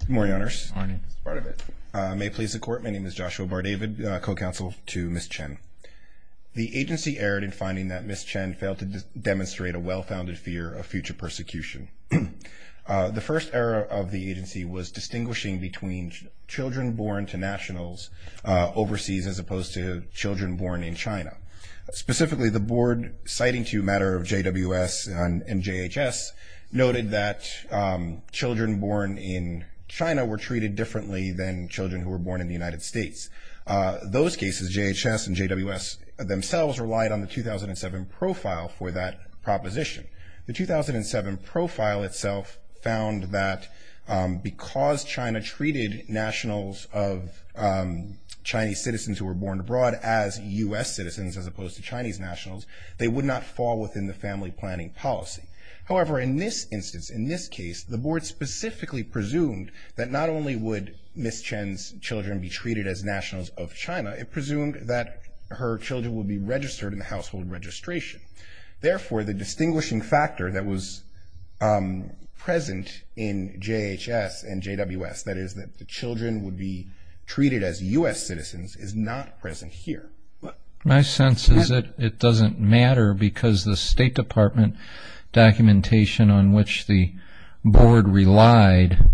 Good morning, Honors. Good morning. That's part of it. May it please the Court, my name is Joshua Bardavid, co-counsel to Ms. Chen. The agency erred in finding that Ms. Chen failed to demonstrate a well-founded fear of future persecution. The first error of the agency was distinguishing between children born to nationals overseas as opposed to children born in China. Specifically, the board citing to a matter of JWS and JHS noted that children born in China were treated differently than children who were born in the United States. Those cases, JHS and JWS themselves relied on the 2007 profile for that proposition. The 2007 profile itself found that because China treated nationals of Chinese citizens who were born abroad as U.S. citizens as opposed to Chinese nationals, they would not fall within the family planning policy. However, in this instance, in this case, the board specifically presumed that not only would Ms. Chen's children be treated as nationals of China, it presumed that her children would be registered in the household registration. Therefore, the distinguishing factor that was present in JHS and JWS, that is that the distinction was not present here. My sense is that it doesn't matter because the State Department documentation on which the board relied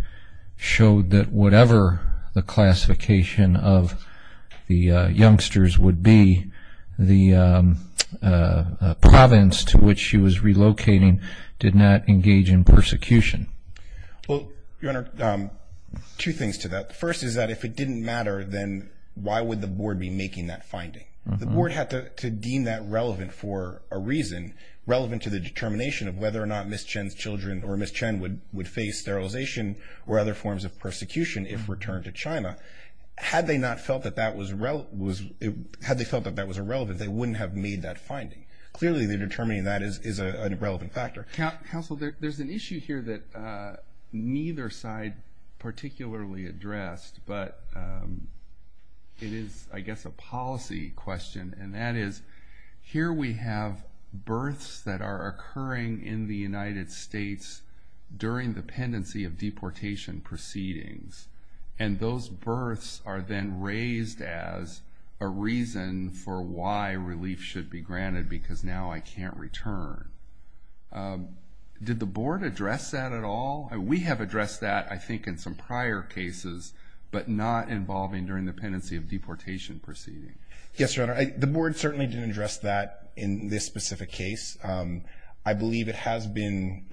showed that whatever the classification of the youngsters would be, the province to which she was relocating did not engage in persecution. Well, Your Honor, two things to that. First is that if it didn't matter, then why would the board be making that finding? The board had to deem that relevant for a reason, relevant to the determination of whether or not Ms. Chen's children or Ms. Chen would face sterilization or other forms of persecution if returned to China. Had they not felt that that was relevant, they wouldn't have made that finding. Clearly, they're determining that is a relevant factor. Counsel, there's an issue here that neither side particularly addressed, but it is, I guess, a policy question. And that is, here we have births that are occurring in the United States during the pendency of deportation proceedings. And those births are then raised as a reason for why relief should be granted because now I can't return. Did the board address that at all? We have addressed that, I think, in some prior cases, but not involving during the pendency of deportation proceedings. Yes, Your Honor. The board certainly didn't address that in this specific case. I believe it has been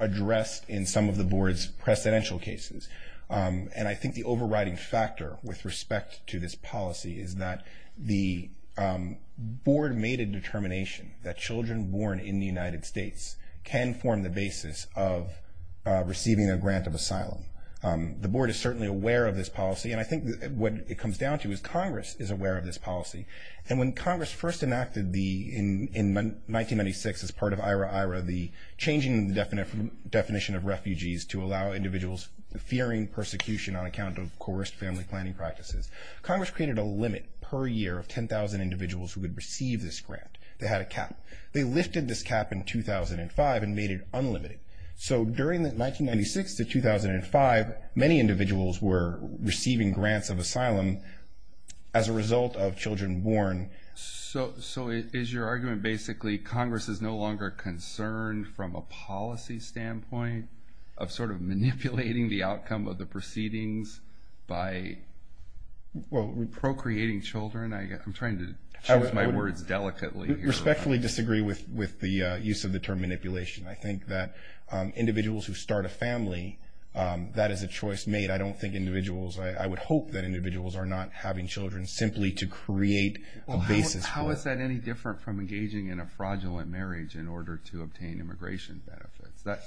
addressed in some of the board's precedential cases. And I think the overriding factor with respect to this policy is that the board made a determination that children born in the United States can form the basis of receiving a grant of asylum. The board is certainly aware of this policy, and I think what it comes down to is Congress is aware of this policy. And when Congress first enacted in 1996, as part of IRA-IRA, the changing definition of refugees to allow individuals fearing persecution on account of coerced family planning practices, Congress created a limit per year of 10,000 individuals who would receive this grant. They had a cap. They lifted this cap in 2005 and made it unlimited. So during 1996 to 2005, many individuals were receiving grants of asylum as a result of children born. So is your argument basically Congress is no longer concerned from a policy standpoint of sort of manipulating the outcome of the proceedings by procreating children? I'm trying to choose my words delicately here. I respectfully disagree with the use of the term manipulation. I think that individuals who start a family, that is a choice made. I don't think individuals, I would hope that individuals are not having children simply to create a basis for it. How is that any different from engaging in a fraudulent marriage in order to obtain immigration benefits?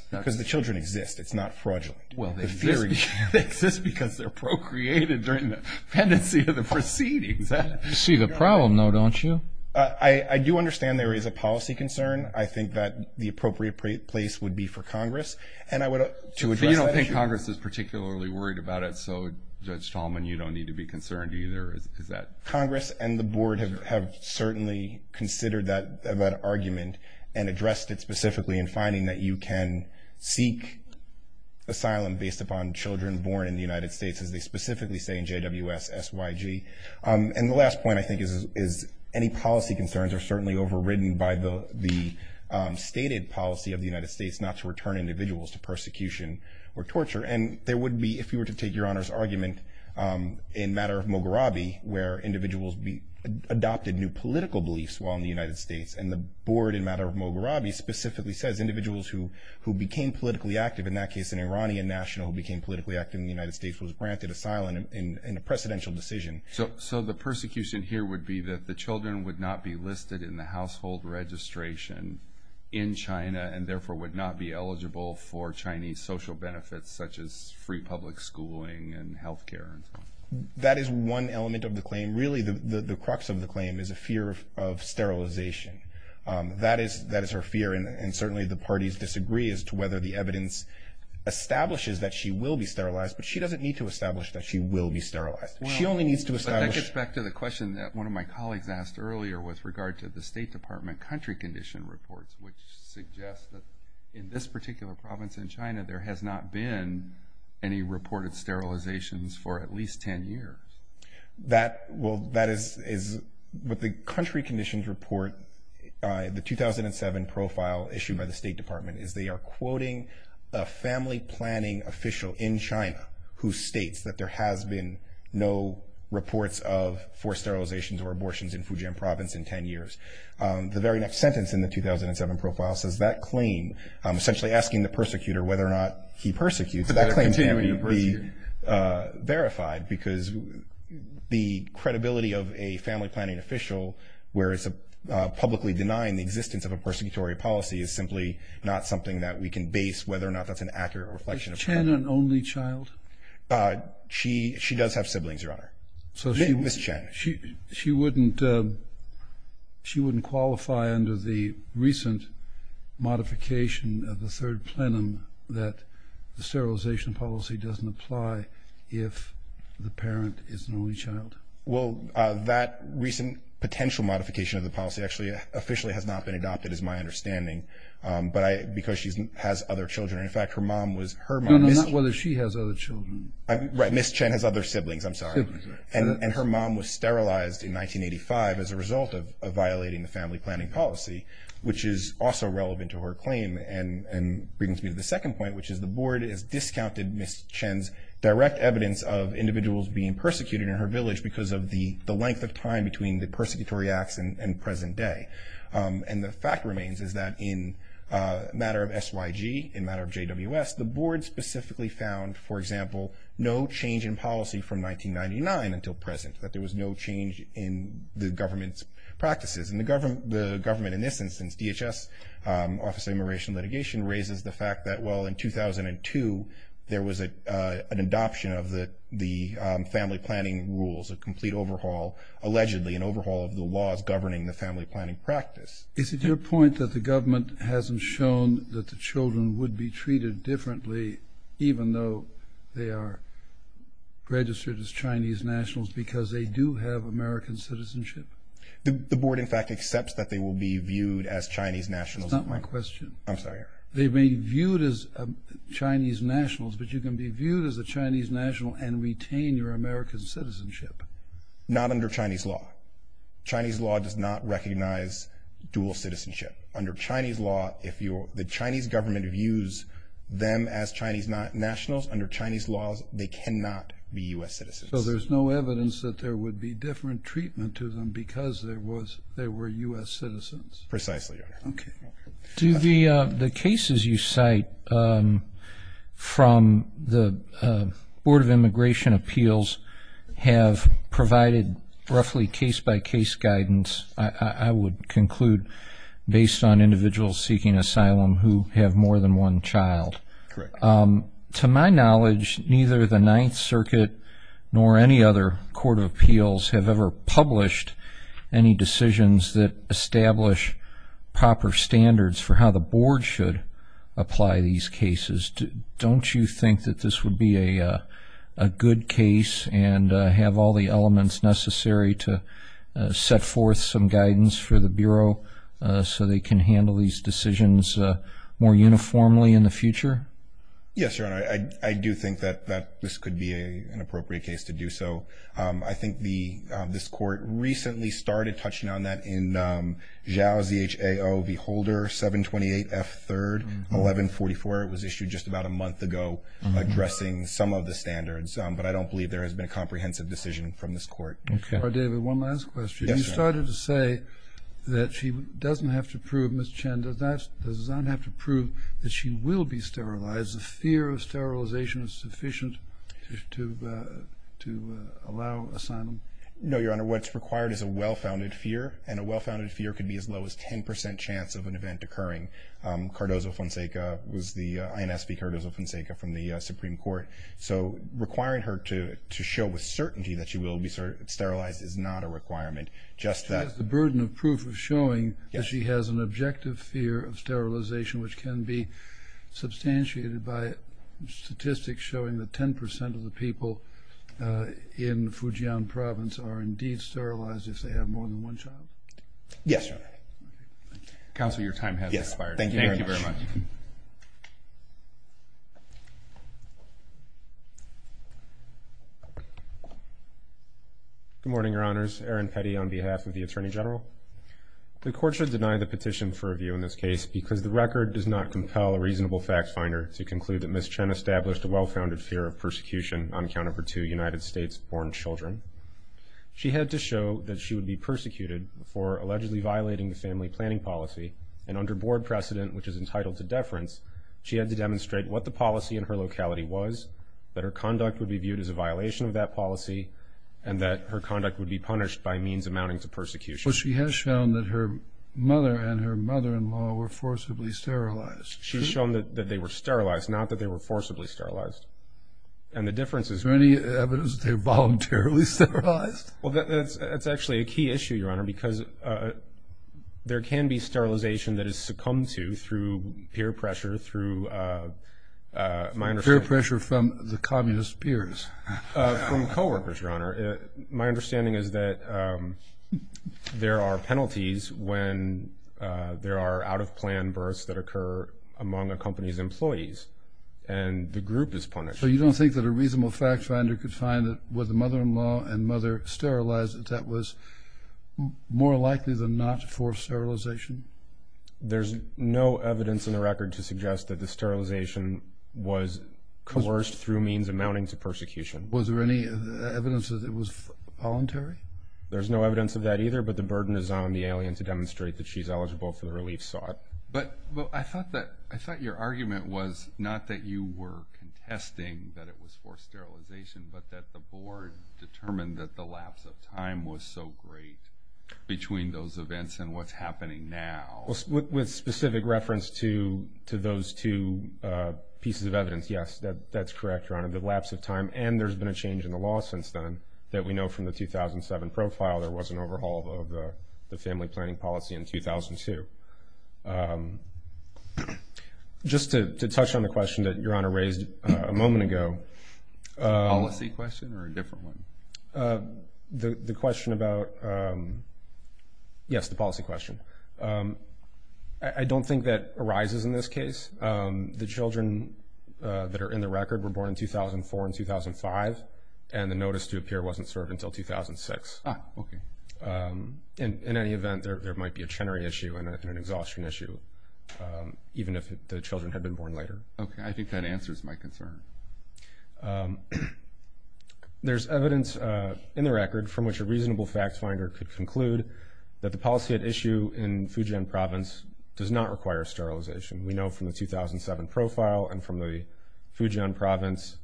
Because the children exist. It's not fraudulent. Well, they exist because they're procreated during the pendency of the proceedings. You see the problem now, don't you? I do understand there is a policy concern. I think that the appropriate place would be for Congress. And I would... So you don't think Congress is particularly worried about it, so Judge Tallman, you don't need to be concerned either. Is that... Congress and the board have certainly considered that argument and addressed it specifically in finding that you can seek asylum based upon children born in the United States, as they specifically say in JWSSYG. And the last point I think is any policy concerns are certainly overridden by the stated policy of the United States not to return individuals to persecution or torture. And there would be, if you were to take Your Honor's argument in matter of Moghrabi, where individuals adopted new political beliefs while in the United States, and the board in matter of Moghrabi specifically says individuals who became politically active, in that case an Iranian national who became politically active in the United States was granted asylum in a precedential decision. So the persecution here would be that the children would not be listed in the household registration in China, and therefore would not be eligible for Chinese social benefits such as free public schooling and healthcare and so on. That is one element of the claim. And really the crux of the claim is a fear of sterilization. That is her fear, and certainly the parties disagree as to whether the evidence establishes that she will be sterilized, but she doesn't need to establish that she will be sterilized. She only needs to establish- But that gets back to the question that one of my colleagues asked earlier with regard to the State Department country condition reports, which suggest that in this particular province in China, there has not been any reported sterilizations for at least 10 years. That is what the country conditions report, the 2007 profile issued by the State Department, is they are quoting a family planning official in China who states that there has been no reports of forced sterilizations or abortions in Fujian province in 10 years. The very next sentence in the 2007 profile says that claim, essentially asking the persecutor whether or not he persecutes, that claim can't be verified. Because the credibility of a family planning official, where it's publicly denying the existence of a persecutory policy, is simply not something that we can base whether or not that's an accurate reflection of- Is Chen an only child? She does have siblings, Your Honor, Ms. Chen. She wouldn't qualify under the recent modification of the third plenum that the sterilization policy doesn't apply if the parent is an only child. Well, that recent potential modification of the policy actually officially has not been adopted is my understanding. But because she has other children, in fact, her mom was- No, not whether she has other children. Right, Ms. Chen has other siblings, I'm sorry. And her mom was sterilized in 1985 as a result of violating the family planning policy, which is also relevant to her claim and brings me to the second point, which is the board has rejected Ms. Chen's direct evidence of individuals being persecuted in her village because of the length of time between the persecutory acts and present day. And the fact remains is that in a matter of SYG, in a matter of JWS, the board specifically found, for example, no change in policy from 1999 until present, that there was no change in the government's practices. And the government, in this instance, DHS, Office of Immigration and Litigation, raises the fact that, well, in 2002, there was an adoption of the family planning rules, a complete overhaul, allegedly an overhaul of the laws governing the family planning practice. Is it your point that the government hasn't shown that the children would be treated differently even though they are registered as Chinese nationals because they do have American citizenship? The board, in fact, accepts that they will be viewed as Chinese nationals- That's not my question. I'm sorry. They may be viewed as Chinese nationals, but you can be viewed as a Chinese national and retain your American citizenship. Not under Chinese law. Chinese law does not recognize dual citizenship. Under Chinese law, if the Chinese government views them as Chinese nationals, under Chinese laws, they cannot be U.S. citizens. So there's no evidence that there would be different treatment to them because they were U.S. citizens? Precisely, Your Honor. Okay. Do the cases you cite from the Board of Immigration Appeals have provided roughly case-by-case guidance, I would conclude, based on individuals seeking asylum who have more than one child? Correct. To my knowledge, neither the Ninth Circuit nor any other court of appeals have ever published any decisions that establish proper standards for how the board should apply these cases. Don't you think that this would be a good case and have all the elements necessary to set forth some guidance for the Bureau so they can handle these decisions more uniformly in the future? Yes, Your Honor. I do think that this could be an appropriate case to do so. I think this Court recently started touching on that in Zhao Zhao v. Holder, 728 F. 3rd, 1144. It was issued just about a month ago addressing some of the standards, but I don't believe there has been a comprehensive decision from this Court. Okay. David, one last question. Yes, Your Honor. You started to say that she doesn't have to prove, Ms. Chen, does Zhang have to prove that she will be sterilized, the fear of sterilization is sufficient to allow asylum? No, Your Honor. What's required is a well-founded fear, and a well-founded fear could be as low as 10 percent chance of an event occurring. Cardozo-Fonseca was the INSB Cardozo-Fonseca from the Supreme Court. So requiring her to show with certainty that she will be sterilized is not a requirement. Just that... She has the burden of proof of showing that she has an objective fear of sterilization, which can be substantiated by statistics showing that 10 percent of the people in Fujian Province are indeed sterilized if they have more than one child. Yes, Your Honor. Counsel, your time has expired. Thank you very much. Yes. Thank you very much. Good morning, Your Honors. Aaron Petty on behalf of the Attorney General. The Court should deny the petition for review in this case because the record does not compel a reasonable fact finder to conclude that Ms. Chen established a well-founded fear of persecution on account of her two United States-born children. She had to show that she would be persecuted for allegedly violating the family planning policy, and under board precedent, which is entitled to deference, she had to demonstrate what the policy in her locality was, that her conduct would be viewed as a violation of that policy, and that her conduct would be punished by means amounting to persecution. Well, she has shown that her mother and her mother-in-law were forcibly sterilized. She's shown that they were sterilized, not that they were forcibly sterilized. And the difference is... Is there any evidence that they were voluntarily sterilized? Well, that's actually a key issue, Your Honor, because there can be sterilization that is succumbed to through peer pressure, through, my understanding... Peer pressure from the communist peers. From co-workers, Your Honor. My understanding is that there are penalties when there are out-of-plan births that occur among a company's employees, and the group is punished. So you don't think that a reasonable fact-finder could find that with the mother-in-law and mother sterilized, that that was more likely than not for sterilization? There's no evidence in the record to suggest that the sterilization was coerced through means amounting to persecution. Was there any evidence that it was voluntary? There's no evidence of that either, but the burden is on the alien to demonstrate that she's eligible for the relief sought. But I thought your argument was not that you were contesting that it was forced sterilization, but that the board determined that the lapse of time was so great between those events and what's happening now. With specific reference to those two pieces of evidence, yes, that's correct, Your Honor. There was an overhaul of the lapse of time, and there's been a change in the law since then that we know from the 2007 profile, there was an overhaul of the family planning policy in 2002. Just to touch on the question that Your Honor raised a moment ago. Policy question or a different one? The question about, yes, the policy question. I don't think that arises in this case. The children that are in the record were born in 2004 and 2005, and the notice to appear wasn't served until 2006. In any event, there might be a Chenery issue and an exhaustion issue, even if the children had been born later. Okay. I think that answers my concern. There's evidence in the record from which a reasonable fact finder could conclude that the policy at issue in Fujian Province does not require sterilization. We know from the 2007 profile and from the Fujian Province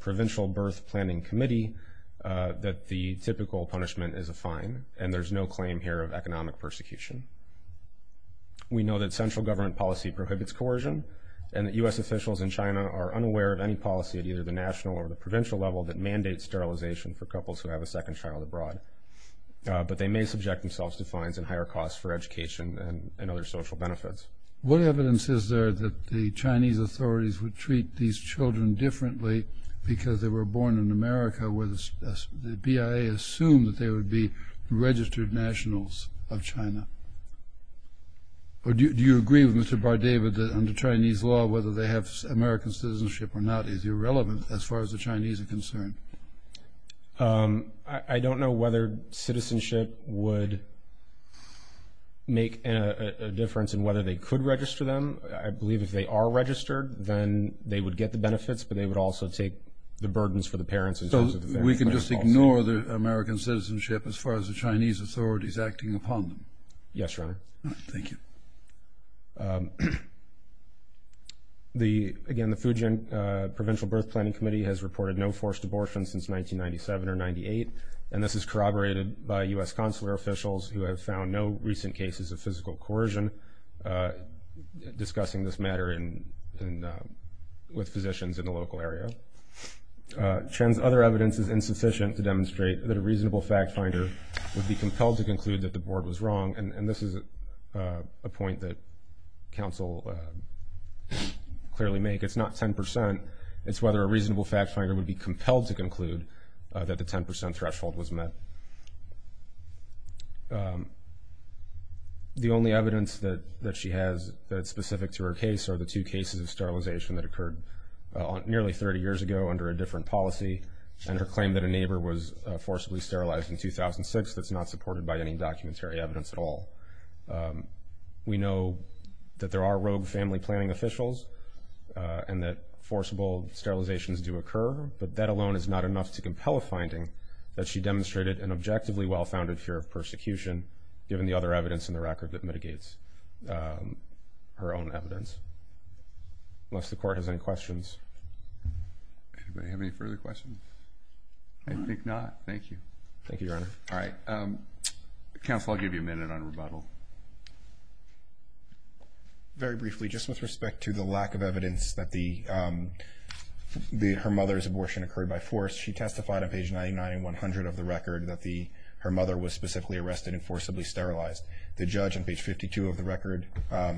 Provincial Birth Planning Committee that the typical punishment is a fine, and there's no claim here of economic persecution. We know that central government policy prohibits coercion, and that U.S. officials in China are unaware of any policy at either the national or the provincial level that mandates sterilization for couples who have a second child abroad. But they may subject themselves to fines and higher costs for education and other social benefits. What evidence is there that the Chinese authorities would treat these children differently because they were born in America where the BIA assumed that they would be registered nationals of China? Or do you agree with Mr. Bardavid that under Chinese law, whether they have American citizenship or not is irrelevant as far as the Chinese are concerned? I don't know whether citizenship would make a difference in whether they could register them. I believe if they are registered, then they would get the benefits, but they would also take the burdens for the parents in terms of the family policy. So we can just ignore the American citizenship as far as the Chinese authorities acting upon them? Yes, Your Honor. Thank you. Again, the Fujian Provincial Birth Planning Committee has reported no forced abortion since 1997 or 1998, and this is corroborated by U.S. consular officials who have found no recent cases of physical coercion discussing this matter with physicians in the local area. Chen's other evidence is insufficient to demonstrate that a reasonable fact finder would be compelled to conclude that the board was wrong, and this is a point that counsel clearly make. It's not 10 percent. It's whether a reasonable fact finder would be compelled to conclude that the 10 percent threshold was met. The only evidence that she has that's specific to her case are the two cases of sterilization that occurred nearly 30 years ago under a different policy, and her claim that a neighbor was forcibly sterilized in 2006 that's not supported by any documentary evidence at all. We know that there are rogue family planning officials and that forcible sterilizations do occur, but that alone is not enough to compel a finding that she demonstrated an objectively well-founded fear of persecution, given the other evidence in the record that mitigates her own evidence. Unless the Court has any questions. Anybody have any further questions? I think not. Thank you. Thank you, Your Honor. All right. Counsel, I'll give you a minute on rebuttal. Very briefly, just with respect to the lack of evidence that her mother's abortion occurred by force, she testified on page 99 and 100 of the record that her mother was specifically arrested and forcibly sterilized. The judge on page 52 of the record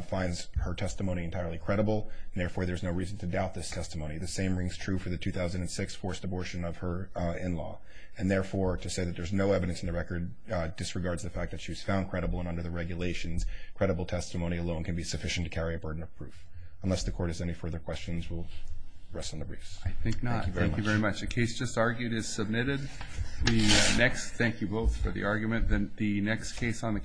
finds her testimony entirely credible, and therefore there's no reason to doubt this testimony. The same rings true for the 2006 forced abortion of her in-law. And therefore, to say that there's no evidence in the record disregards the fact that she was found credible and under the regulations. Credible testimony alone can be sufficient to carry a burden of proof. Unless the Court has any further questions, we'll rest on the briefs. I think not. Thank you very much. The case just argued is submitted. Next, thank you both for the argument. The next case on the